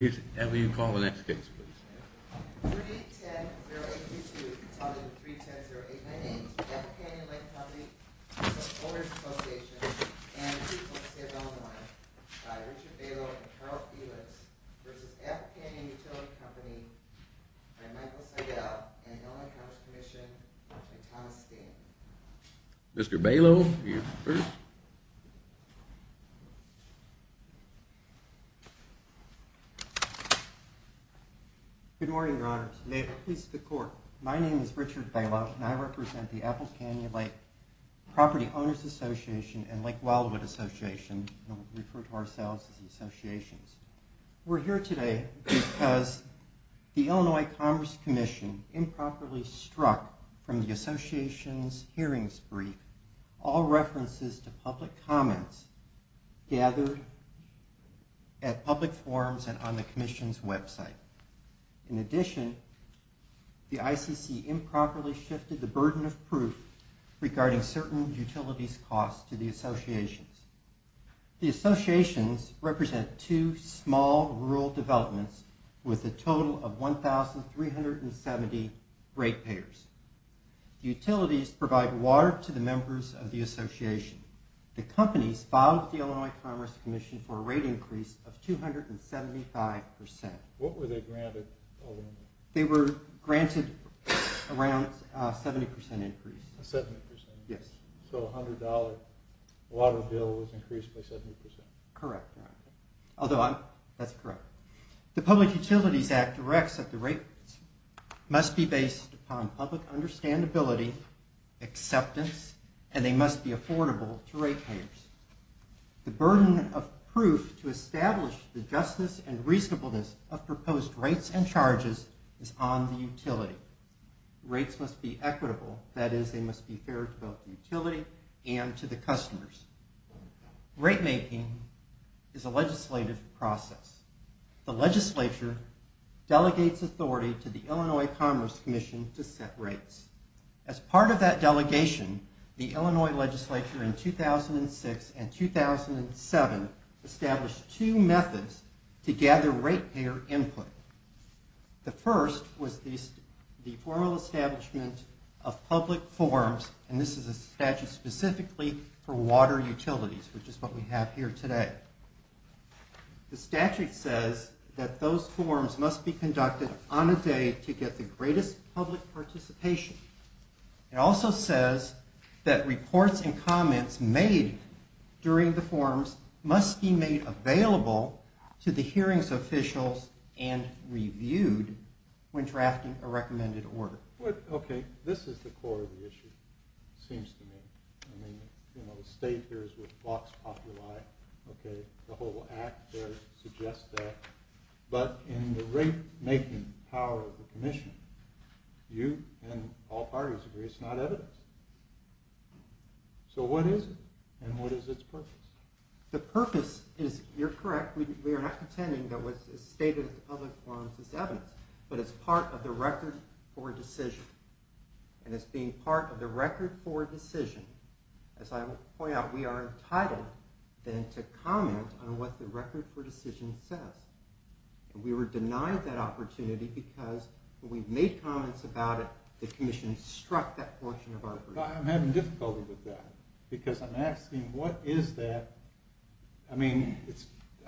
Energies. Can we call the ne Good morning, Your Honor. May it please the Court. My name is Richard Bailoff and I represent the Apple Canyon Lake Property Owners Association and Lake Wildwood Association, and we refer to ourselves as the Associations. We're here today because the Illinois Commerce Commission improperly struck from the Association's hearings brief all references to public comments gathered at public forums and on the Commission's website. In addition, the ICC improperly shifted the burden of proof regarding certain utilities costs to the associations. The associations represent two small rural developments with a total of 1,370 ratepayers. Utilities provide water to the members of the association. The companies filed with the Illinois Commerce Commission for a rate increase of 275%. What were they granted? They were granted around a 70% increase. A 70%? Yes. So a $100 water bill was increased by 70%. Correct, Your Honor. That's correct. The Public Utilities Act directs that the rates must be based upon public understandability, acceptance, and they must be affordable to ratepayers. The burden of proof to establish the justice and reasonableness of proposed rates and charges is on the utility. Rates must be equitable, that is, they must be fair to both the utility and to the customers. Rate making is a legislative process. The legislature delegates authority to the Illinois Commerce Commission to set rates. As part of that delegation, the Illinois legislature in 2006 and 2007 established two methods to gather ratepayer input. The first was the formal establishment of public forms, and this is a statute specifically for water utilities, which is what we have here today. The statute says that those forms must be conducted on a day to get the greatest public participation. It also says that reports and comments made during the forms must be made available to the hearings officials and reviewed when drafting a recommended order. Okay, this is the core of the issue, it seems to me. I mean, you know, the state here is what blocks popular life, okay? The whole act there suggests that. But in the rate making power of the commission, you and all parties agree it's not evidence. So what is it, and what is its purpose? The purpose is, you're correct, we are not pretending that what's stated in the public forms is evidence, but it's part of the record for a decision. And it's being part of the record for a decision. As I point out, we are entitled then to comment on what the record for a decision says. And we were denied that opportunity because when we made comments about it, the commission struck that portion of our agreement. I'm having difficulty with that, because I'm asking, what is that? I mean,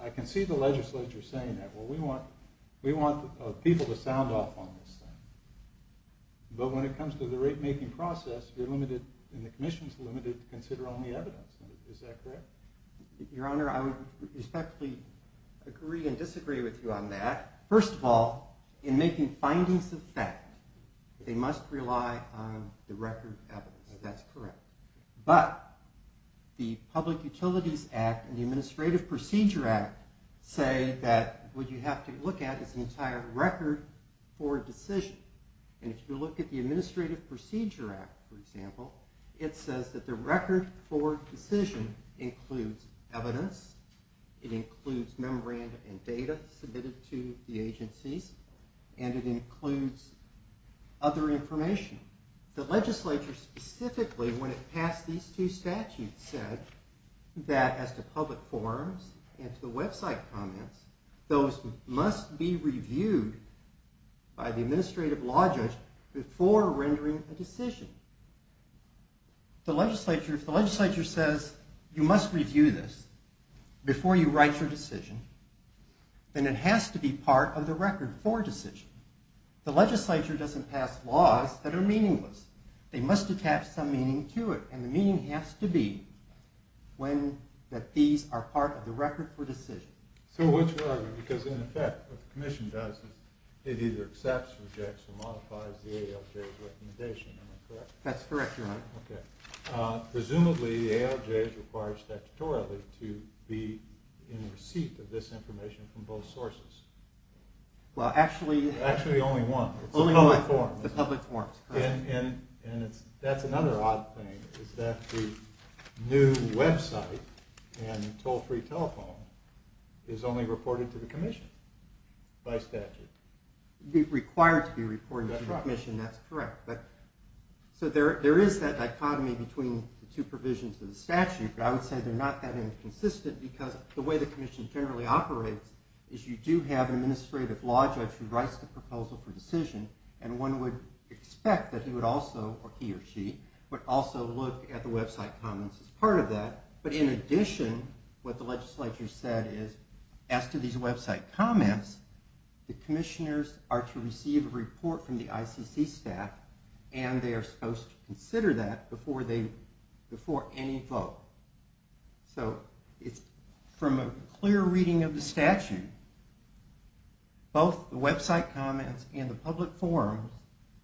I can see the legislature saying that. Well, we want people to sound off on this thing. But when it comes to the rate making process, you're limited and the commission is limited to consider only evidence. Is that correct? Your Honor, I would respectfully agree and disagree with you on that. First of all, in making findings of fact, they must rely on the record of evidence. That's correct. But the Public Utilities Act and the Administrative Procedure Act say that what you have to look at is an entire record for a decision. And if you look at the Administrative Procedure Act, for example, it says that the record for a decision includes evidence, it includes memoranda and data submitted to the agencies, and it includes other information. The legislature specifically, when it passed these two statutes, said that as to public forums and to the website comments, those must be reviewed by the administrative law judge before rendering a decision. If the legislature says you must review this before you write your decision, then it has to be part of the record for a decision. The legislature doesn't pass laws that are meaningless. They must attach some meaning to it, and the meaning has to be that these are part of the record for a decision. So what's your argument? Because in effect, what the commission does is it either accepts, rejects, or modifies the ALJ's recommendation. Am I correct? That's correct, Your Honor. Okay. Presumably, the ALJ is required statutorily to be in receipt of this information from both sources. Well, actually… Actually, only one. Only one. The public forum. The public forum, correct. And that's another odd thing, is that the new website and toll-free telephone is only reported to the commission by statute. Required to be reported to the commission, that's correct. That's right. So there is that dichotomy between the two provisions of the statute, but I would say they're not that inconsistent because the way the commission generally operates is you do have an administrative law judge who writes the proposal for decision, and one would expect that he would also, or he or she, would also look at the website comments as part of that. But in addition, what the legislature said is, as to these website comments, the commissioners are to receive a report from the ICC staff, and they are supposed to consider that before any vote. So it's from a clear reading of the statute, both the website comments and the public forum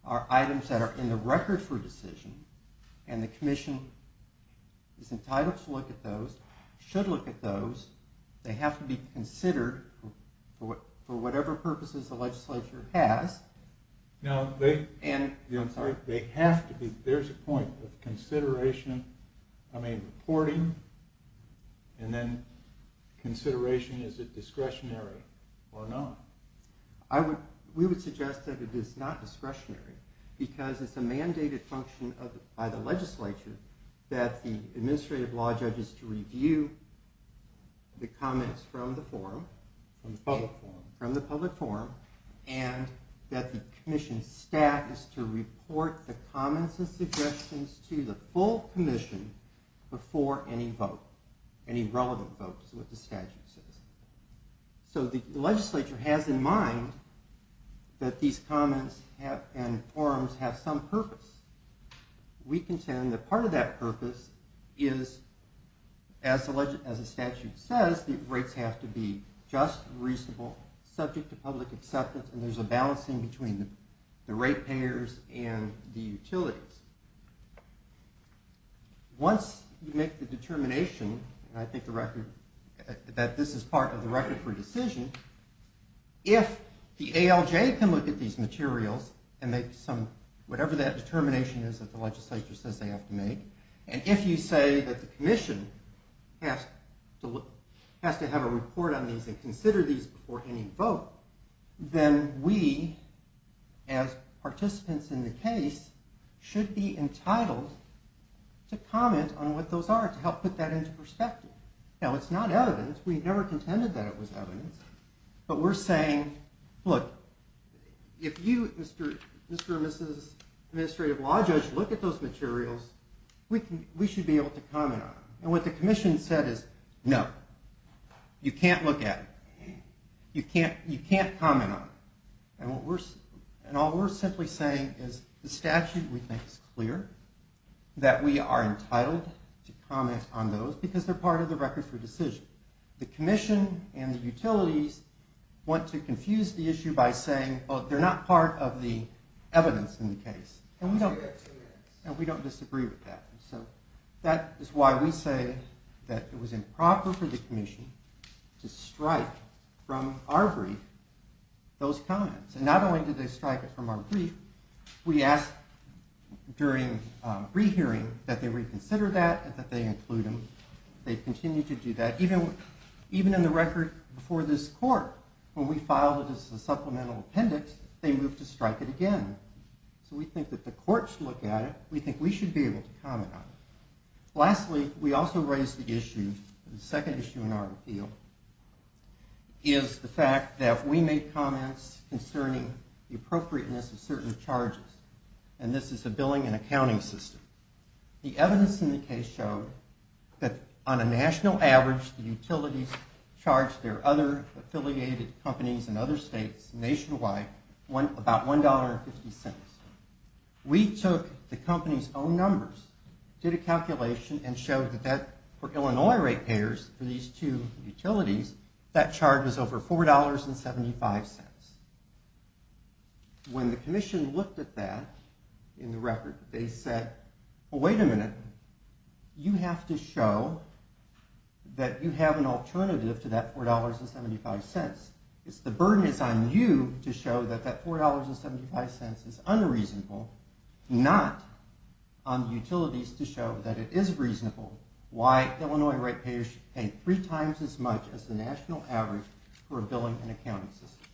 are items that are in the record for decision, and the commission is entitled to look at those, should look at those. They have to be considered for whatever purposes the legislature has. I'm sorry? They have to be. There's a point of consideration, I mean, reporting, and then consideration, is it discretionary or not? We would suggest that it is not discretionary because it's a mandated function by the legislature that the administrative law judge is to review the comments from the forum. From the public forum. From the public forum, and that the commission staff is to report the comments and suggestions to the full commission before any vote, any relevant vote is what the statute says. So the legislature has in mind that these comments and forums have some purpose. We contend that part of that purpose is, as the statute says, the rates have to be just and reasonable, subject to public acceptance, and there's a balancing between the rate payers and the utilities. Once you make the determination, and I think the record, that this is part of the record for decision, if the ALJ can look at these materials and make whatever that determination is that the legislature says they have to make, and if you say that the commission has to have a report on these and consider these before any vote, then we, as participants in the case, should be entitled to comment on what those are to help put that into perspective. Now, it's not evidence. We never contended that it was evidence, but we're saying, look, if you, Mr. and Mrs. Administrative Law Judge, look at those materials, we should be able to comment on them. And what the commission said is, no, you can't look at them. You can't comment on them. And all we're simply saying is the statute, we think, is clear, that we are entitled to comment on those, because they're part of the record for decision. The commission and the utilities want to confuse the issue by saying, well, they're not part of the evidence in the case. And we don't disagree with that. So that is why we say that it was improper for the commission to strike from our brief those comments. And not only did they strike it from our brief, we asked during rehearing that they reconsider that and that they include them. They've continued to do that. Even in the record before this court, when we filed it as a supplemental appendix, they moved to strike it again. So we think that the courts look at it. We think we should be able to comment on it. Lastly, we also raised the issue, the second issue in our appeal, is the fact that we made comments concerning the appropriateness of certain charges. And this is the billing and accounting system. The evidence in the case showed that on a national average, the utilities charged their other affiliated companies in other states nationwide about $1.50. We took the company's own numbers, did a calculation, and showed that for Illinois rate payers, for these two utilities, that charge was over $4.75. When the commission looked at that in the record, they said, well, wait a minute. You have to show that you have an alternative to that $4.75. The burden is on you to show that that $4.75 is unreasonable, not on utilities to show that it is reasonable why Illinois rate payers should pay three times as much as the national average for a billing and accounting system.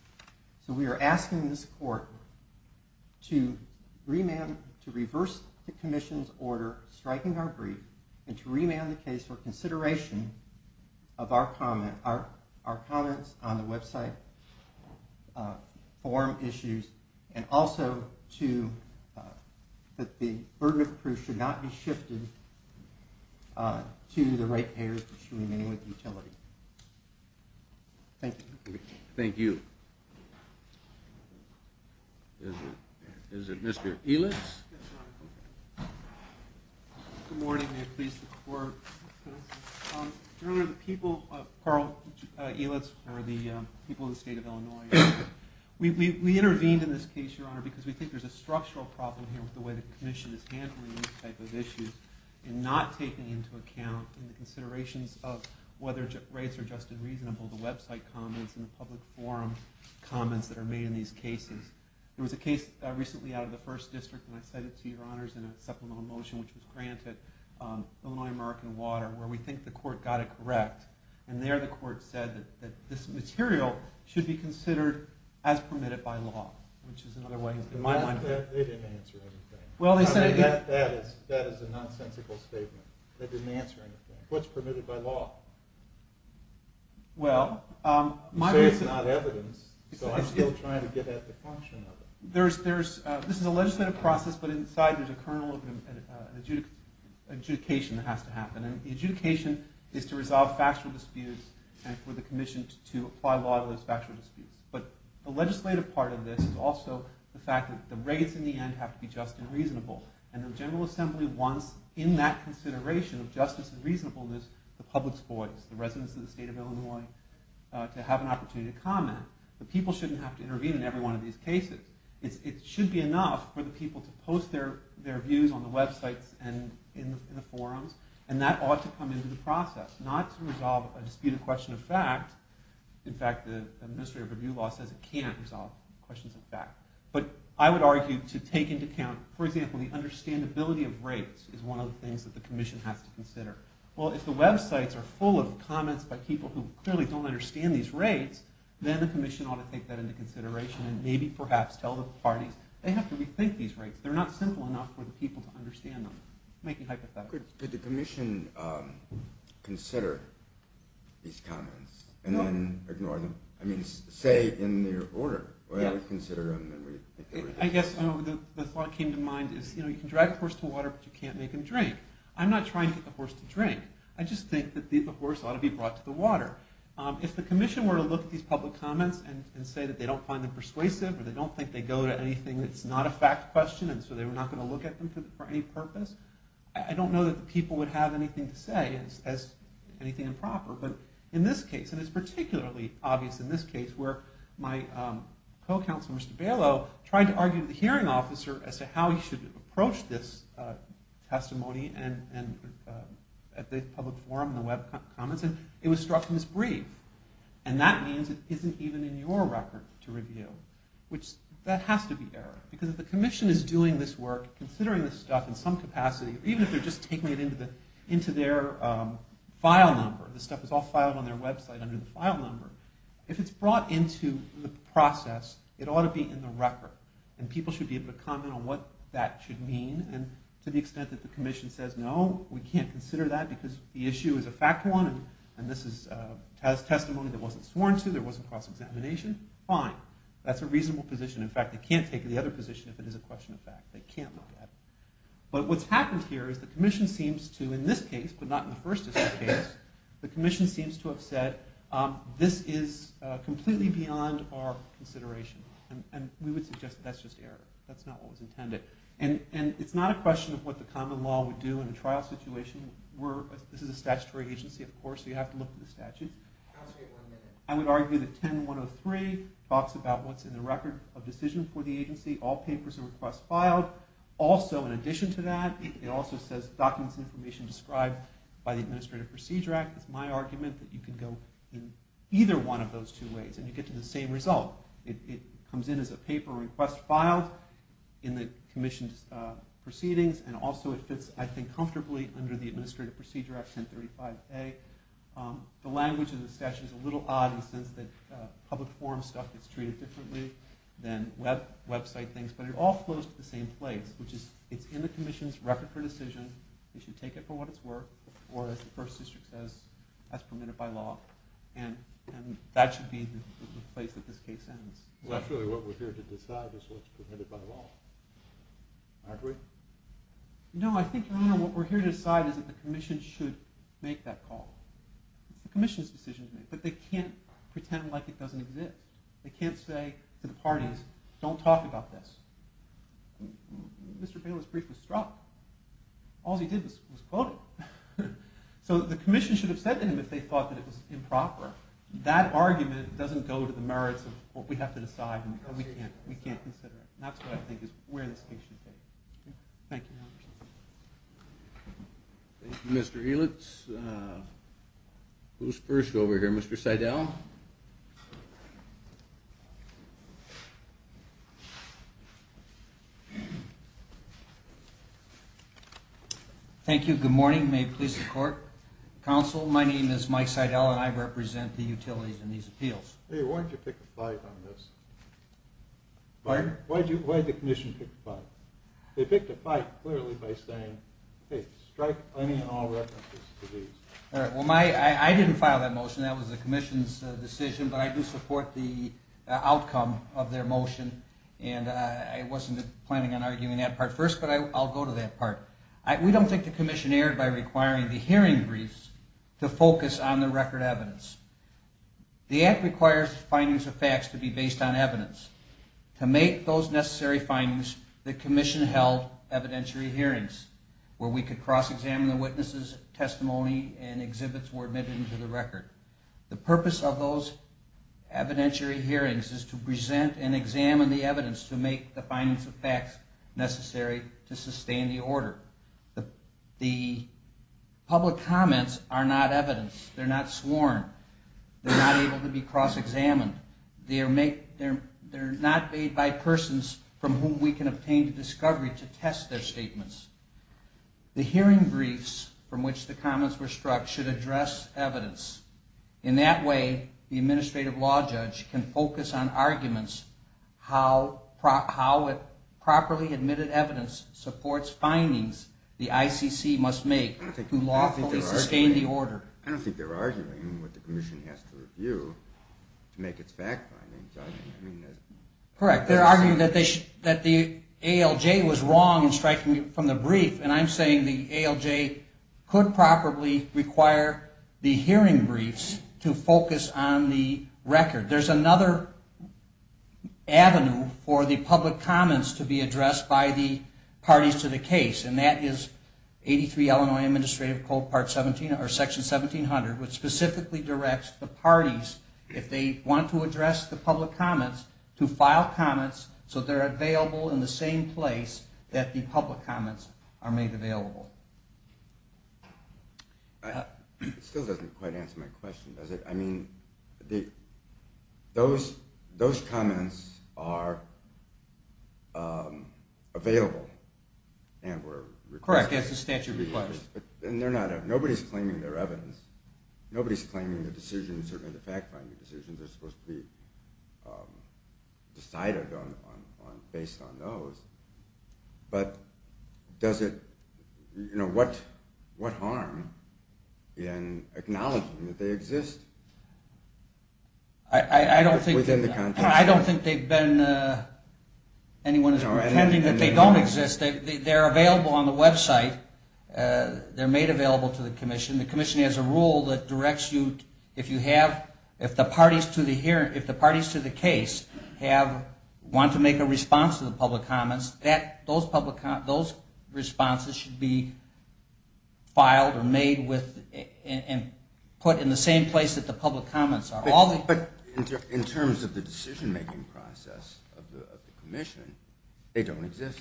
So we are asking this court to reverse the commission's order striking our brief and to remand the case for consideration of our comments on the website, forum issues, and also that the burden of proof should not be shifted to the rate payers that should remain with utilities. Thank you. Thank you. Is it Mr. Elitz? Yes, Your Honor. Good morning, and may it please the Court. Your Honor, the people, Carl Elitz, are the people of the state of Illinois. We intervened in this case, Your Honor, because we think there's a structural problem here with the way the commission is handling these type of issues and not taking into account the considerations of whether rates are just and reasonable, the website comments, and the public forum comments that are made in these cases. There was a case recently out of the First District, and I cited it to Your Honors in a supplemental motion which was granted, Illinois-American Water, where we think the court got it correct, and there the court said that this material should be considered as permitted by law, which is another way, in my mind. They didn't answer everything. That is a nonsensical statement. They didn't answer anything. What's permitted by law? You say it's not evidence, so I'm still trying to get at the function of it. This is a legislative process, but inside there's a kernel of adjudication that has to happen, and the adjudication is to resolve factual disputes and for the commission to apply law to those factual disputes. But the legislative part of this is also the fact that the rates in the end have to be just and reasonable, and the General Assembly wants, in that consideration of justice and reasonableness, the public's voice, the residents of the state of Illinois, to have an opportunity to comment. The people shouldn't have to intervene in every one of these cases. It should be enough for the people to post their views on the websites and in the forums, and that ought to come into the process, not to resolve a disputed question of fact. In fact, the Ministry of Review law says it can't resolve questions of fact. But I would argue to take into account, for example, the understandability of rates is one of the things that the commission has to consider. Well, if the websites are full of comments by people who clearly don't understand these rates, then the commission ought to take that into consideration and maybe, perhaps, tell the parties. They have to rethink these rates. They're not simple enough for the people to understand them. I'm making hypotheses. Could the commission consider these comments and then ignore them? I mean, say, in their order. I guess the thought that came to mind is you can drag a horse to water, but you can't make him drink. I'm not trying to get the horse to drink. I just think that the horse ought to be brought to the water. If the commission were to look at these public comments and say that they don't find them persuasive or they don't think they go to anything that's not a fact question, and so they were not going to look at them for any purpose, I don't know that the people would have anything to say as anything improper. But in this case, and it's particularly obvious in this case, where my co-counsel, Mr. Bailow, tried to argue with the hearing officer as to how he should approach this testimony at the public forum and the web comments, and it was struck him as brief. And that means it isn't even in your record to review, which that has to be error. Because if the commission is doing this work, considering this stuff in some capacity, even if they're just taking it into their file number, this stuff is all filed on their website under the file number, if it's brought into the process, it ought to be in the record. And people should be able to comment on what that should mean. And to the extent that the commission says, no, we can't consider that because the issue is a fact one and this is testimony that wasn't sworn to, there wasn't cross-examination, fine. That's a reasonable position. In fact, they can't take the other position if it is a question of fact. They can't look at it. But what's happened here is the commission seems to, in this case, but not in the first district case, the commission seems to have said, this is completely beyond our consideration. And we would suggest that that's just error. That's not what was intended. And it's not a question of what the common law would do in a trial situation. This is a statutory agency, of course, so you have to look at the statutes. I would argue that 10103 talks about what's in the record of decision for the agency. All papers and requests filed. Also, in addition to that, it also says documents and information described by the Administrative Procedure Act. It's my argument that you can go in either one of those two ways and you get to the same result. It comes in as a paper request filed in the commission's proceedings, and also it fits, I think, comfortably under the Administrative Procedure Act, 1035A. The language of the statute is a little odd in the sense that public forum stuff gets treated differently than website things. But it all flows to the same place, which is it's in the commission's record for decision. We should take it for what it's worth, or as the first district says, that's permitted by law. And that should be the place that this case ends. Well, actually, what we're here to decide is what's permitted by law. Aren't we? No, I think what we're here to decide is that the commission should make that call. It's the commission's decision to make, but they can't pretend like it doesn't exist. They can't say to the parties, don't talk about this. Mr. Bailiff's brief was struck. All he did was quote it. So the commission should have said to him if they thought that it was improper. That argument doesn't go to the merits of what we have to decide and we can't consider it. That's what I think is where this case should take. Thank you. Thank you, Mr. Helitz. Who's first over here? Mr. Seidel? Thank you. Good morning. May it please the court. Counsel, my name is Mike Seidel, and I represent the utilities in these appeals. Hey, why don't you pick a fight on this? Pardon? Why did the commission pick a fight? They picked a fight clearly by saying, hey, strike any and all references to these. All right, well, I didn't file that motion. That was the commission's decision, but I do support the outcome of their motion, and I wasn't planning on arguing that part first, but I'll go to that part. We don't think the commission erred by requiring the hearing briefs to focus on the record evidence. The act requires findings of facts to be based on evidence. To make those necessary findings, the commission held evidentiary hearings where we could cross-examine the witnesses' testimony and exhibits were admitted into the record. The purpose of those evidentiary hearings is to present and examine the evidence to make the findings of facts necessary to sustain the order. The public comments are not evidence. They're not sworn. They're not able to be cross-examined. They're not made by persons from whom we can obtain the discovery to test their statements. The hearing briefs from which the comments were struck should address evidence. In that way, the administrative law judge can focus on arguments how properly admitted evidence supports findings the ICC must make to lawfully sustain the order. I don't think they're arguing what the commission has to review to make its fact findings. Correct. They're arguing that the ALJ was wrong in striking from the brief, and I'm saying the ALJ could probably require the hearing briefs to focus on the record. There's another avenue for the public comments to be addressed by the parties to the case, and that is 83 Illinois Administrative Code, Section 1700, which specifically directs the parties, if they want to address the public comments, to file comments so they're available in the same place that the public comments are made available. It still doesn't quite answer my question. I mean, those comments are available and were requested. Correct. It's a statute request. Nobody's claiming they're evidence. Nobody's claiming the decision, certainly the fact-finding decisions are supposed to be decided based on those. But what harm in acknowledging that they exist? I don't think anyone is pretending that they don't exist. They're available on the website. They're made available to the commission. The commission has a rule that directs you if the parties to the case want to make a response to the public comments, those responses should be filed or made and put in the same place that the public comments are. But in terms of the decision-making process of the commission, they don't exist.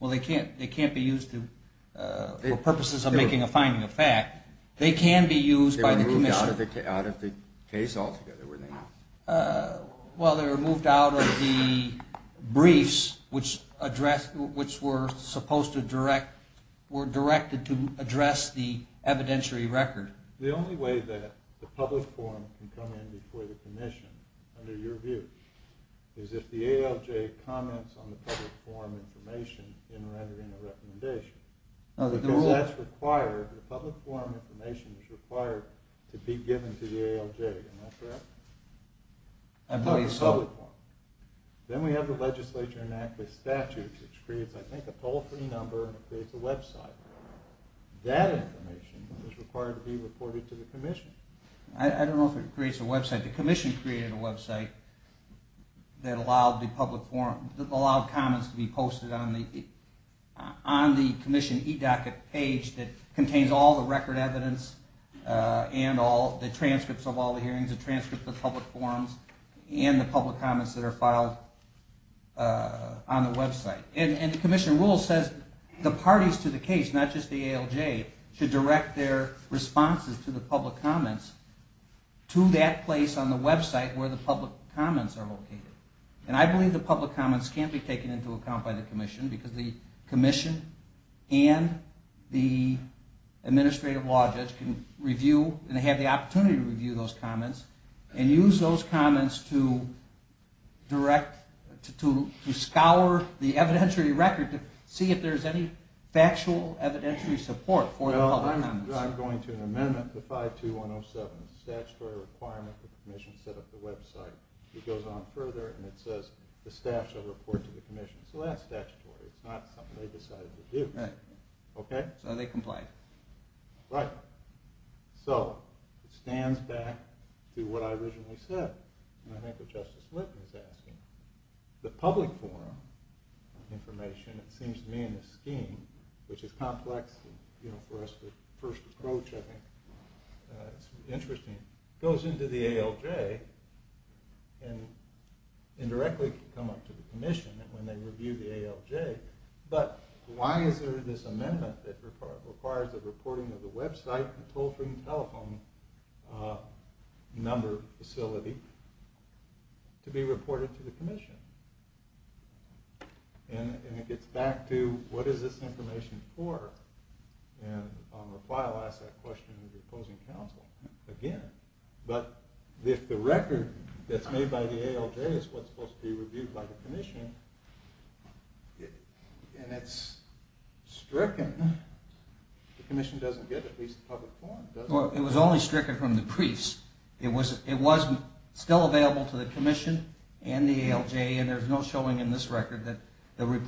Well, they can't be used for purposes of making a finding of fact. They can be used by the commission. They were moved out of the case altogether, were they not? Well, they were moved out of the briefs, which were supposed to direct, were directed to address the evidentiary record. The only way that the public forum can come in before the commission, under your view, is if the ALJ comments on the public forum information in rendering a recommendation. Because that's required. The public forum information is required to be given to the ALJ. Am I correct? I believe so. Then we have the Legislature Enacted Statute, which creates, I think, a toll-free number and creates a website. That information is required to be reported to the commission. I don't know if it creates a website. The commission created a website that allowed the public forum, that allowed comments to be posted on the commission eDocket page that contains all the record evidence and all the transcripts of all the hearings, the transcripts of the public forums, and the public comments that are filed on the website. And the commission rule says the parties to the case, not just the ALJ, should direct their responses to the public comments to that place on the website where the public comments are located. And I believe the public comments can't be taken into account by the commission because the commission and the administrative law judge can review and have the opportunity to review those comments and use those comments to direct, to scour the evidentiary record to see if there's any factual evidentiary support for the public comments. Well, I'm going to an amendment to 52107, the statutory requirement that the commission set up the website. It goes on further and it says the staff shall report to the commission. So that's statutory. It's not something they decided to do. Right. Okay? So they comply. Right. So it stands back to what I originally said. And I think what Justice Linton is asking. The public forum information, it seems to me in this scheme, which is complex, and for us the first approach I think is interesting, goes into the ALJ and indirectly can come up to the commission when they review the ALJ. But why is there this amendment that requires the reporting of the website and toll-free telephone number facility to be reported to the commission? And it gets back to what is this information for? And I'll ask that question to the opposing counsel again. But if the record that's made by the ALJ is what's supposed to be reviewed by the commission, and it's stricken, the commission doesn't get at least the public forum, does it? Well, it was only stricken from the briefs. It was still available to the commission and the ALJ, and there's no showing in this record that there wasn't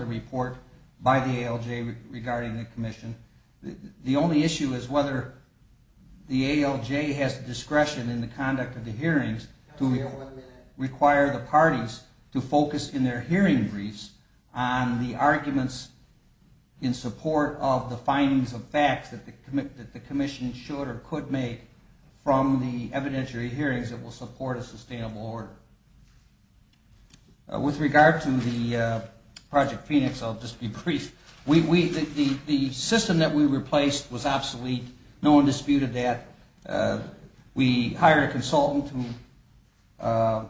a report by the ALJ regarding the commission. The only issue is whether the ALJ has discretion in the conduct of the hearings to require the parties to focus in their hearing briefs on the arguments in support of the findings of facts that the commission should or could make from the evidentiary hearings that will support a sustainable order. With regard to the Project Phoenix, I'll just be brief. The system that we replaced was obsolete. No one disputed that. We hired a consultant who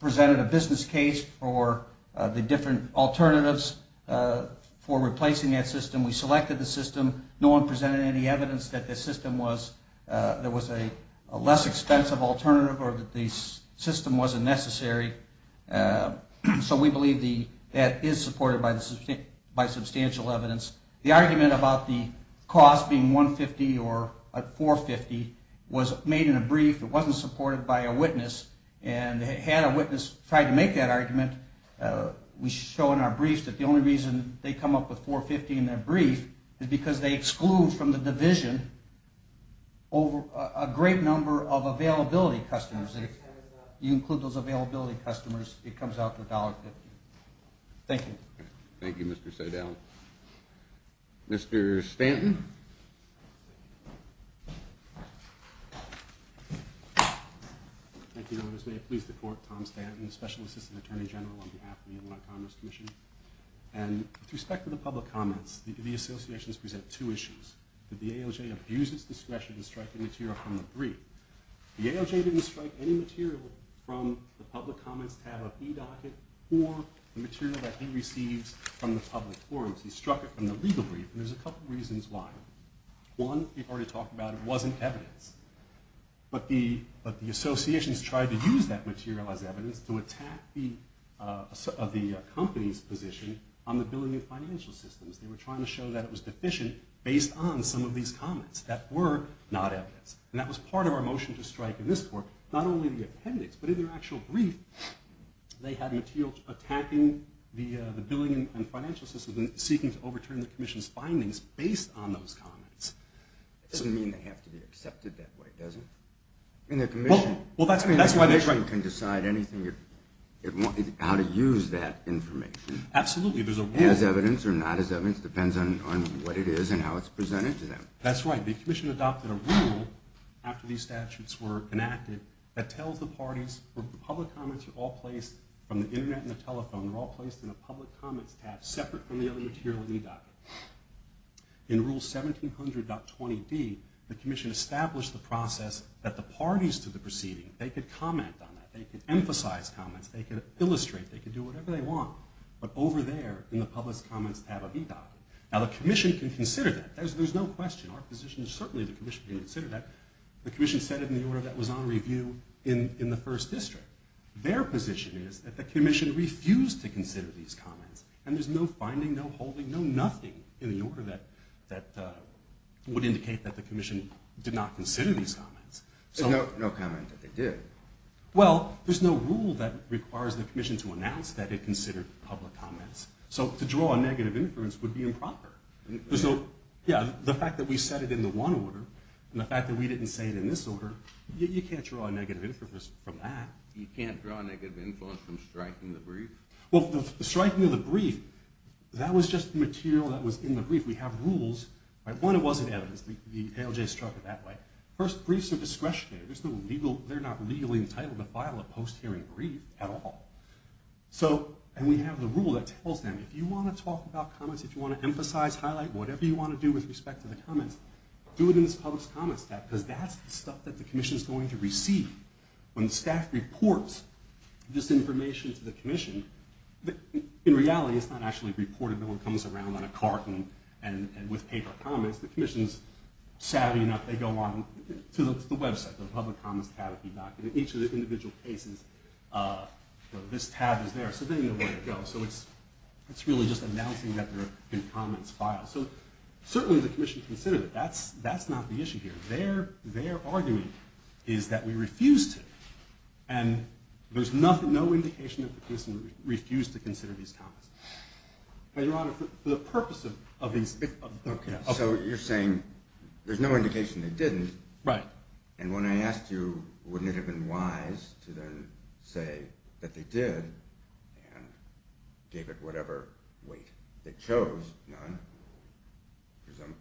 presented a business case for the different alternatives for replacing that system. We selected the system. No one presented any evidence that the system was a less expensive alternative or that the system wasn't necessary. So we believe that is supported by substantial evidence. The argument about the cost being $150 or $450 was made in a brief. It wasn't supported by a witness, and had a witness tried to make that argument, we show in our briefs that the only reason they come up with $450 in their brief is because they exclude from the division a great number of availability customers. If you include those availability customers, it comes out to $1.50. Thank you. Thank you, Mr. Sedale. Mr. Stanton. Thank you, Your Honor. May it please the Court, Tom Stanton, Special Assistant Attorney General on behalf of the Illinois Commerce Commission. With respect to the public comments, the associations present two issues. Did the AOJ abuse its discretion to strike the material from the brief? The AOJ didn't strike any material from the public comments tab of eDocket or the material that he receives from the public forums. He struck it from the legal brief, and there's a couple reasons why. One, we've already talked about it, it wasn't evidence. But the associations tried to use that material as evidence to attack the company's position on the billing and financial systems. They were trying to show that it was deficient based on some of these comments that were not evidence. And that was part of our motion to strike in this Court, not only the appendix, but in their actual brief, they had material attacking the billing and financial systems and seeking to overturn the Commission's findings based on those comments. It doesn't mean they have to be accepted that way, does it? Well, that's why the Commission can decide how to use that information as evidence or not as evidence. It depends on what it is and how it's presented to them. That's right, the Commission adopted a rule after these statutes were enacted that tells the parties where public comments are all placed from the Internet and the telephone, they're all placed in a public comments tab separate from the other material in eDocket. In Rule 1700.20d, the Commission established the process that the parties to the proceeding, they could comment on that, they could emphasize comments, they could illustrate, they could do whatever they want, but over there in the public comments tab of eDocket. Now, the Commission can consider that. There's no question. Certainly the Commission can consider that. The Commission set it in the order that was on review in the First District. Their position is that the Commission refused to consider these comments, and there's no finding, no holding, no nothing in the order that would indicate that the Commission did not consider these comments. There's no comment that they did. Well, there's no rule that requires the Commission to announce that it considered public comments. So to draw a negative inference would be improper. Yeah, the fact that we set it in the one order, and the fact that we didn't say it in this order, you can't draw a negative inference from that. You can't draw a negative inference from striking the brief? Well, the striking of the brief, that was just material that was in the brief. We have rules. One, it wasn't evidence. The ALJ struck it that way. First, briefs are discretionary. They're not legally entitled to file a post-hearing brief at all. And we have the rule that tells them, if you want to talk about comments, if you want to emphasize, highlight, whatever you want to do with respect to the comments, do it in this Public Comments tab, because that's the stuff that the Commission's going to receive. When staff reports this information to the Commission, in reality, it's not actually reported. No one comes around on a cart and with paper comments. The Commission's savvy enough, they go on to the website, the Public Comments tab, and in each of the individual cases, this tab is there. So they know where to go. So it's really just announcing that there have been comments filed. So certainly the Commission considered it. That's not the issue here. Their argument is that we refuse to. And there's no indication that the Commission refused to consider these comments. But, Your Honor, for the purpose of these— Okay, so you're saying there's no indication they didn't. Right. And when I asked you, wouldn't it have been wise to then say that they did and gave it whatever weight? They chose none,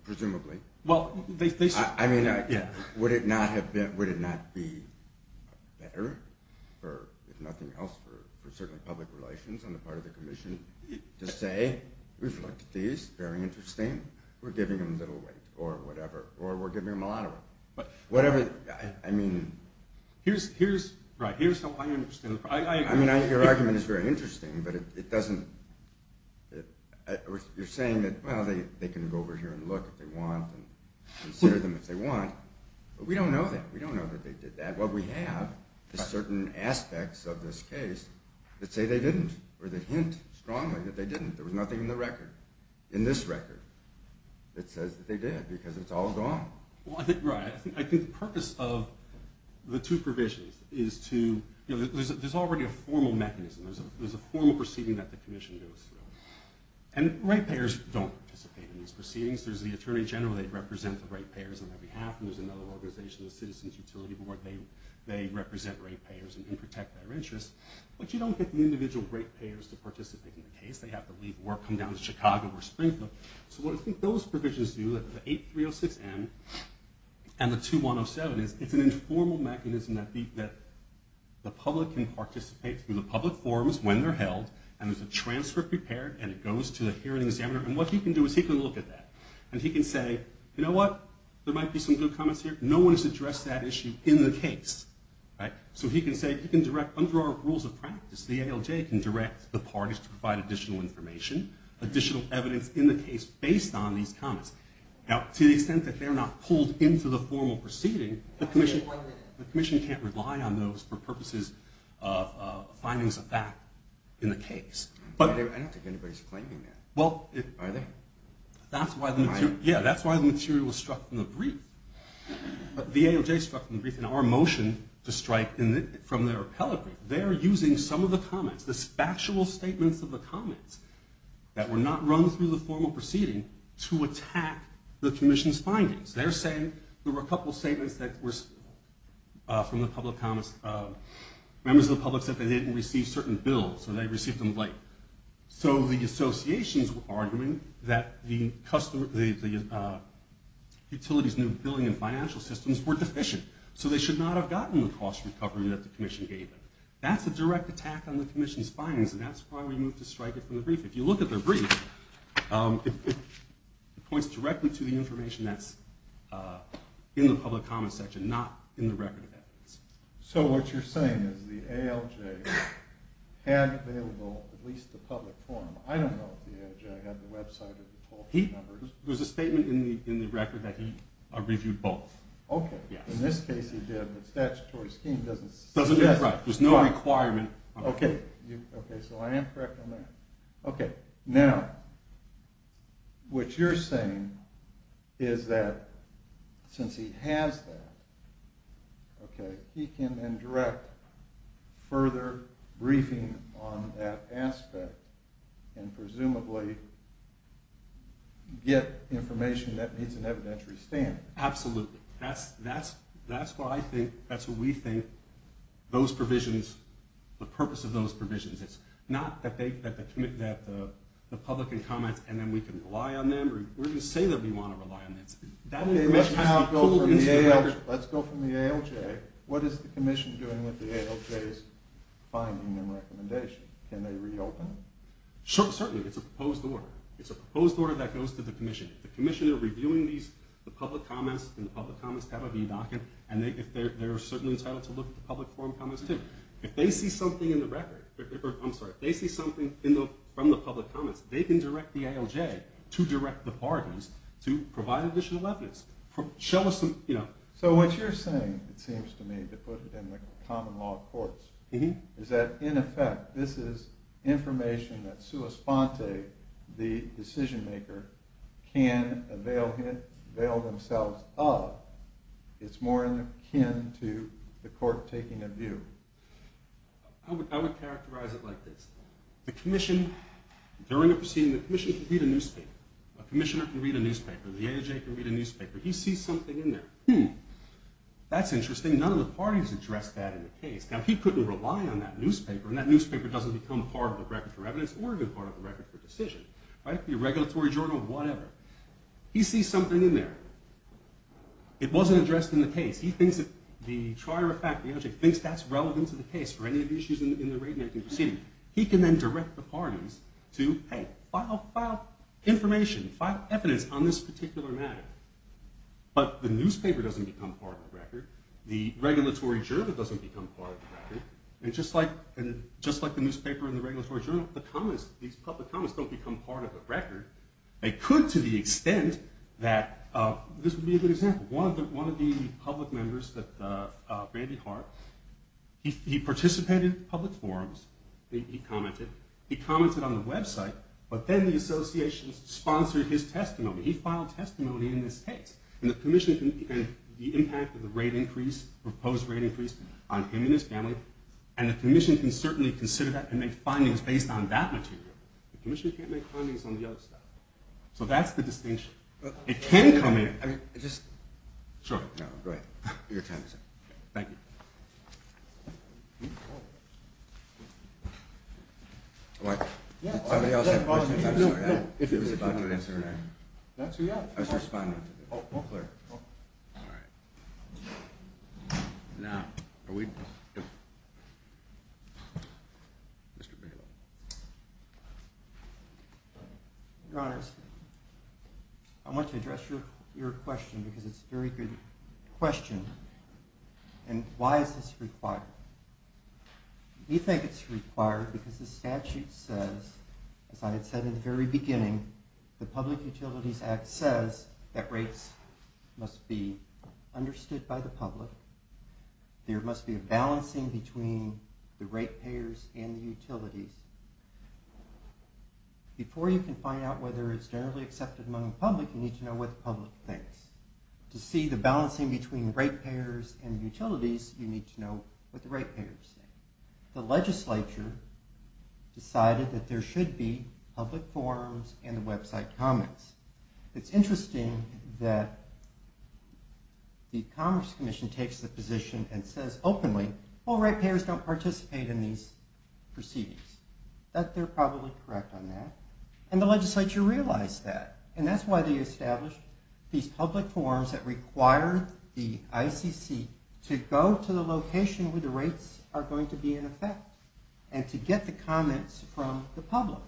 presumably. Well, they— I mean, would it not have been—would it not be better, if nothing else for certainly public relations on the part of the Commission, to say, we've looked at these. Very interesting. We're giving them a little weight or whatever, or we're giving them a lot of weight. Whatever—I mean— Here's—right, here's how I understand it. I mean, your argument is very interesting, but it doesn't— you're saying that, well, they can go over here and look if they want and consider them if they want. But we don't know that. We don't know that they did that. What we have is certain aspects of this case that say they didn't or that hint strongly that they didn't. There was nothing in the record, in this record, that says that they did because it's all gone. Well, I think—right. I think the purpose of the two provisions is to— you know, there's already a formal mechanism. There's a formal proceeding that the Commission goes through. And ratepayers don't participate in these proceedings. There's the Attorney General. They represent the ratepayers on their behalf. And there's another organization, the Citizens Utility Board. They represent ratepayers and protect their interests. But you don't get the individual ratepayers to participate in the case. They have to leave work, come down to Chicago or Springfield. So what I think those provisions do, the 8306M and the 2107, is it's an informal mechanism that the public can participate through the public forums when they're held. And there's a transfer prepared, and it goes to the hearing examiner. And what he can do is he can look at that. And he can say, you know what, there might be some good comments here. No one has addressed that issue in the case. So he can say—he can direct, under our rules of practice, the ALJ can direct the parties to provide additional information, additional evidence in the case based on these comments. Now, to the extent that they're not pulled into the formal proceeding, the Commission can't rely on those for purposes of findings of fact in the case. But— I don't think anybody's claiming that. Well, it— Are they? That's why the material— Am I? Yeah, that's why the material was struck from the brief. The ALJ struck from the brief in our motion to strike from their appellate brief. They're using some of the comments, the factual statements of the comments, that were not run through the formal proceeding to attack the Commission's findings. They're saying there were a couple of statements that were from the public comments. Members of the public said they didn't receive certain bills. So they received them late. So the associations were arguing that the utilities' new billing and financial systems were deficient. So they should not have gotten the cost recovery that the Commission gave them. That's a direct attack on the Commission's findings. And that's why we moved to strike it from the brief. If you look at their brief, it points directly to the information that's in the public comments section, not in the record of evidence. So what you're saying is the ALJ had available at least the public form. I don't know if the ALJ had the website or the public numbers. There's a statement in the record that he reviewed both. Okay. Yes. In this case, he did. The statutory scheme doesn't suggest— It doesn't. That's right. There's no requirement. Okay. Okay. So I am correct on that. Okay. Now, what you're saying is that since he has that, okay, he can then direct further briefing on that aspect and presumably get information that needs an evidentiary stand. Absolutely. That's why I think—that's what we think those provisions—the purpose of those provisions is. It's not that the public can comment and then we can rely on them or we're going to say that we want to rely on them. Let's go from the ALJ. What is the Commission doing with the ALJ's findings and recommendations? Can they reopen? Certainly. It's a proposed order. It's a proposed order that goes to the Commission. The Commission are reviewing these, the public comments, and the public comments have a view document, and they're certainly entitled to look at the public forum comments, too. If they see something in the record—I'm sorry, if they see something from the public comments, they can direct the ALJ to direct the parties to provide additional evidence, show us some— So what you're saying, it seems to me, to put it in the common law courts, is that, in effect, this is information that sua sponte, the decision maker, can avail themselves of. It's more akin to the court taking a view. I would characterize it like this. The Commission, during a proceeding, the Commission can read a newspaper. A Commissioner can read a newspaper. The ALJ can read a newspaper. He sees something in there. Hmm. That's interesting. None of the parties addressed that in the case. Now, he couldn't rely on that newspaper, and that newspaper doesn't become part of the record for evidence or a good part of the record for decision, right? It could be a regulatory journal, whatever. He sees something in there. It wasn't addressed in the case. He thinks that the trier of fact, the ALJ, thinks that's relevant to the case for any of the issues in the rate making proceeding. He can then direct the parties to, hey, file information, file evidence on this particular matter. But the newspaper doesn't become part of the record. The regulatory journal doesn't become part of the record. And just like the newspaper and the regulatory journal, these public comments don't become part of the record. They could to the extent that this would be a good example. One of the public members, Randy Hart, he participated in public forums. He commented. He commented on the website, but then the association sponsored his testimony. He filed testimony in this case. And the commission can, the impact of the rate increase, proposed rate increase on him and his family, and the commission can certainly consider that and make findings based on that material. The commission can't make findings on the other stuff. So that's the distinction. It can come in. I mean, just. Sure. No, go ahead. Your time is up. Thank you. Oh. What? Somebody else have a question? I'm sorry. I was about to answer that. That's who you are. I was responding. Oh, oh. All right. Now, are we? Mr. Bigelow. Your Honor, I want to address your question because it's a very good question. And why is this required? We think it's required because the statute says, as I had said in the very beginning, the Public Utilities Act says that rates must be understood by the public. There must be a balancing between the rate payers and the utilities. Before you can find out whether it's generally accepted among the public, you need to know what the public thinks. To see the balancing between rate payers and utilities, you need to know what the rate payers think. The legislature decided that there should be public forums and website comments. It's interesting that the Commerce Commission takes the position and says openly, well, rate payers don't participate in these proceedings. They're probably correct on that. And the legislature realized that. And that's why they established these public forums that require the ICC to go to the location where the rates are going to be in effect and to get the comments from the public.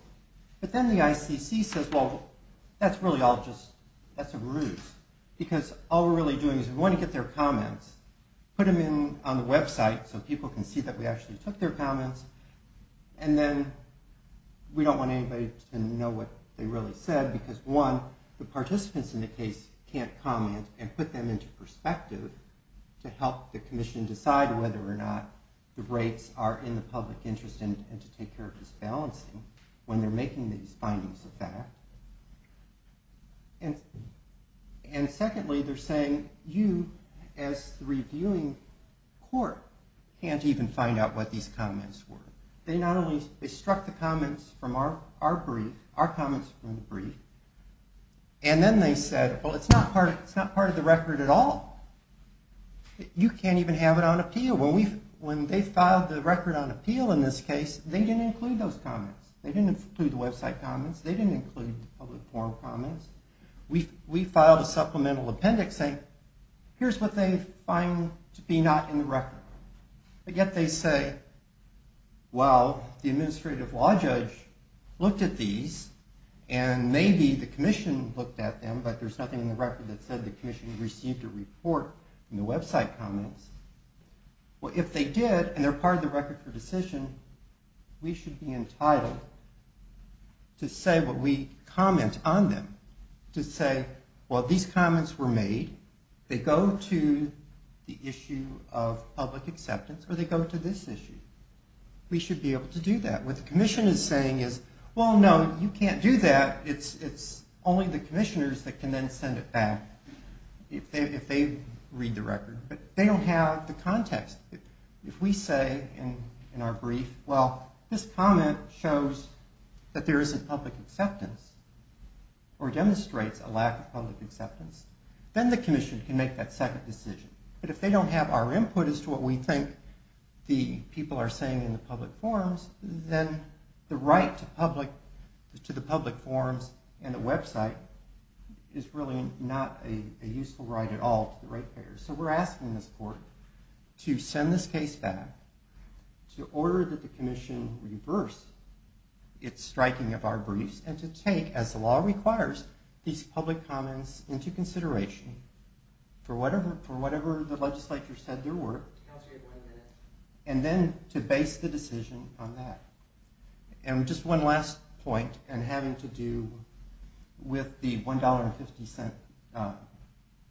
But then the ICC says, well, that's really all just, that's a ruse. Because all we're really doing is we want to get their comments, put them in on the website so people can see that we actually took their comments, and then we don't want anybody to know what they really said because, one, the participants in the case can't comment and put them into perspective to help the commission decide whether or not the rates are in the public interest and to take care of this balancing when they're making these findings of fact. And secondly, they're saying you, as the reviewing court, can't even find out what these comments were. They struck the comments from our brief, our comments from the brief, and then they said, well, it's not part of the record at all. You can't even have it on appeal. When they filed the record on appeal in this case, they didn't include those comments. They didn't include the website comments. They didn't include the public forum comments. We filed a supplemental appendix saying, here's what they find to be not in the record. But yet they say, well, the administrative law judge looked at these, and maybe the commission looked at them, but there's nothing in the record that said the commission received a report from the website comments. Well, if they did, and they're part of the record for decision, we should be entitled to say what we comment on them, to say, well, these comments were made. They go to the issue of public acceptance, or they go to this issue. We should be able to do that. What the commission is saying is, well, no, you can't do that. It's only the commissioners that can then send it back if they read the record. But they don't have the context. If we say in our brief, well, this comment shows that there isn't public acceptance or demonstrates a lack of public acceptance, then the commission can make that second decision. But if they don't have our input as to what we think the people are saying in the public forums, then the right to the public forums and the website is really not a useful right at all to the ratepayers. So we're asking this court to send this case back, to order that the commission reverse its striking of our briefs, and to take, as the law requires, these public comments into consideration for whatever the legislature said they were, and then to base the decision on that. And just one last point, and having to do with the $1.50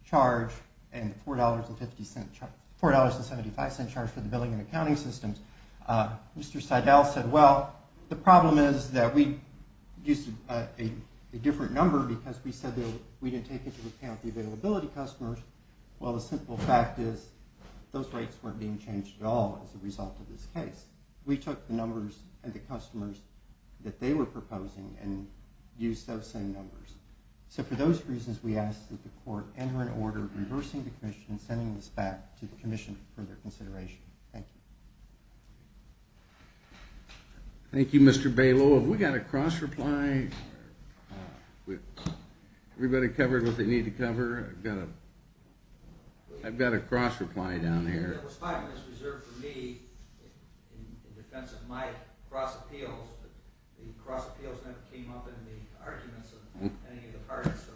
charge and $4.75 charge for the billing and accounting systems, Mr. Seidel said, well, the problem is that we used a different number because we said we didn't take into account the availability customers. Well, the simple fact is those rates weren't being changed at all as a result of this case. We took the numbers and the customers that they were proposing and used those same numbers. So for those reasons, we ask that the court enter an order reversing the commission and sending this back to the commission for further consideration. Thank you. Thank you, Mr. Balow. Have we got a cross-reply? Everybody covered what they need to cover? I've got a cross-reply down here. It was five minutes reserved for me in defense of my cross-appeals, but the cross-appeals never came up in the arguments of any of the parties, so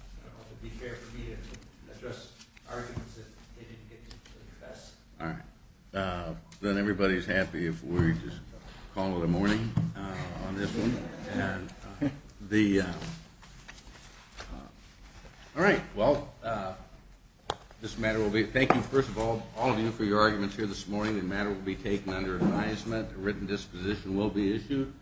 I don't know if it would be fair for me to address arguments that they didn't get to address. All right. Then everybody's happy if we just call it a morning on this one. All right. Thank you, first of all, all of you, for your arguments here this morning. The matter will be taken under advisement. A written disposition will be issued.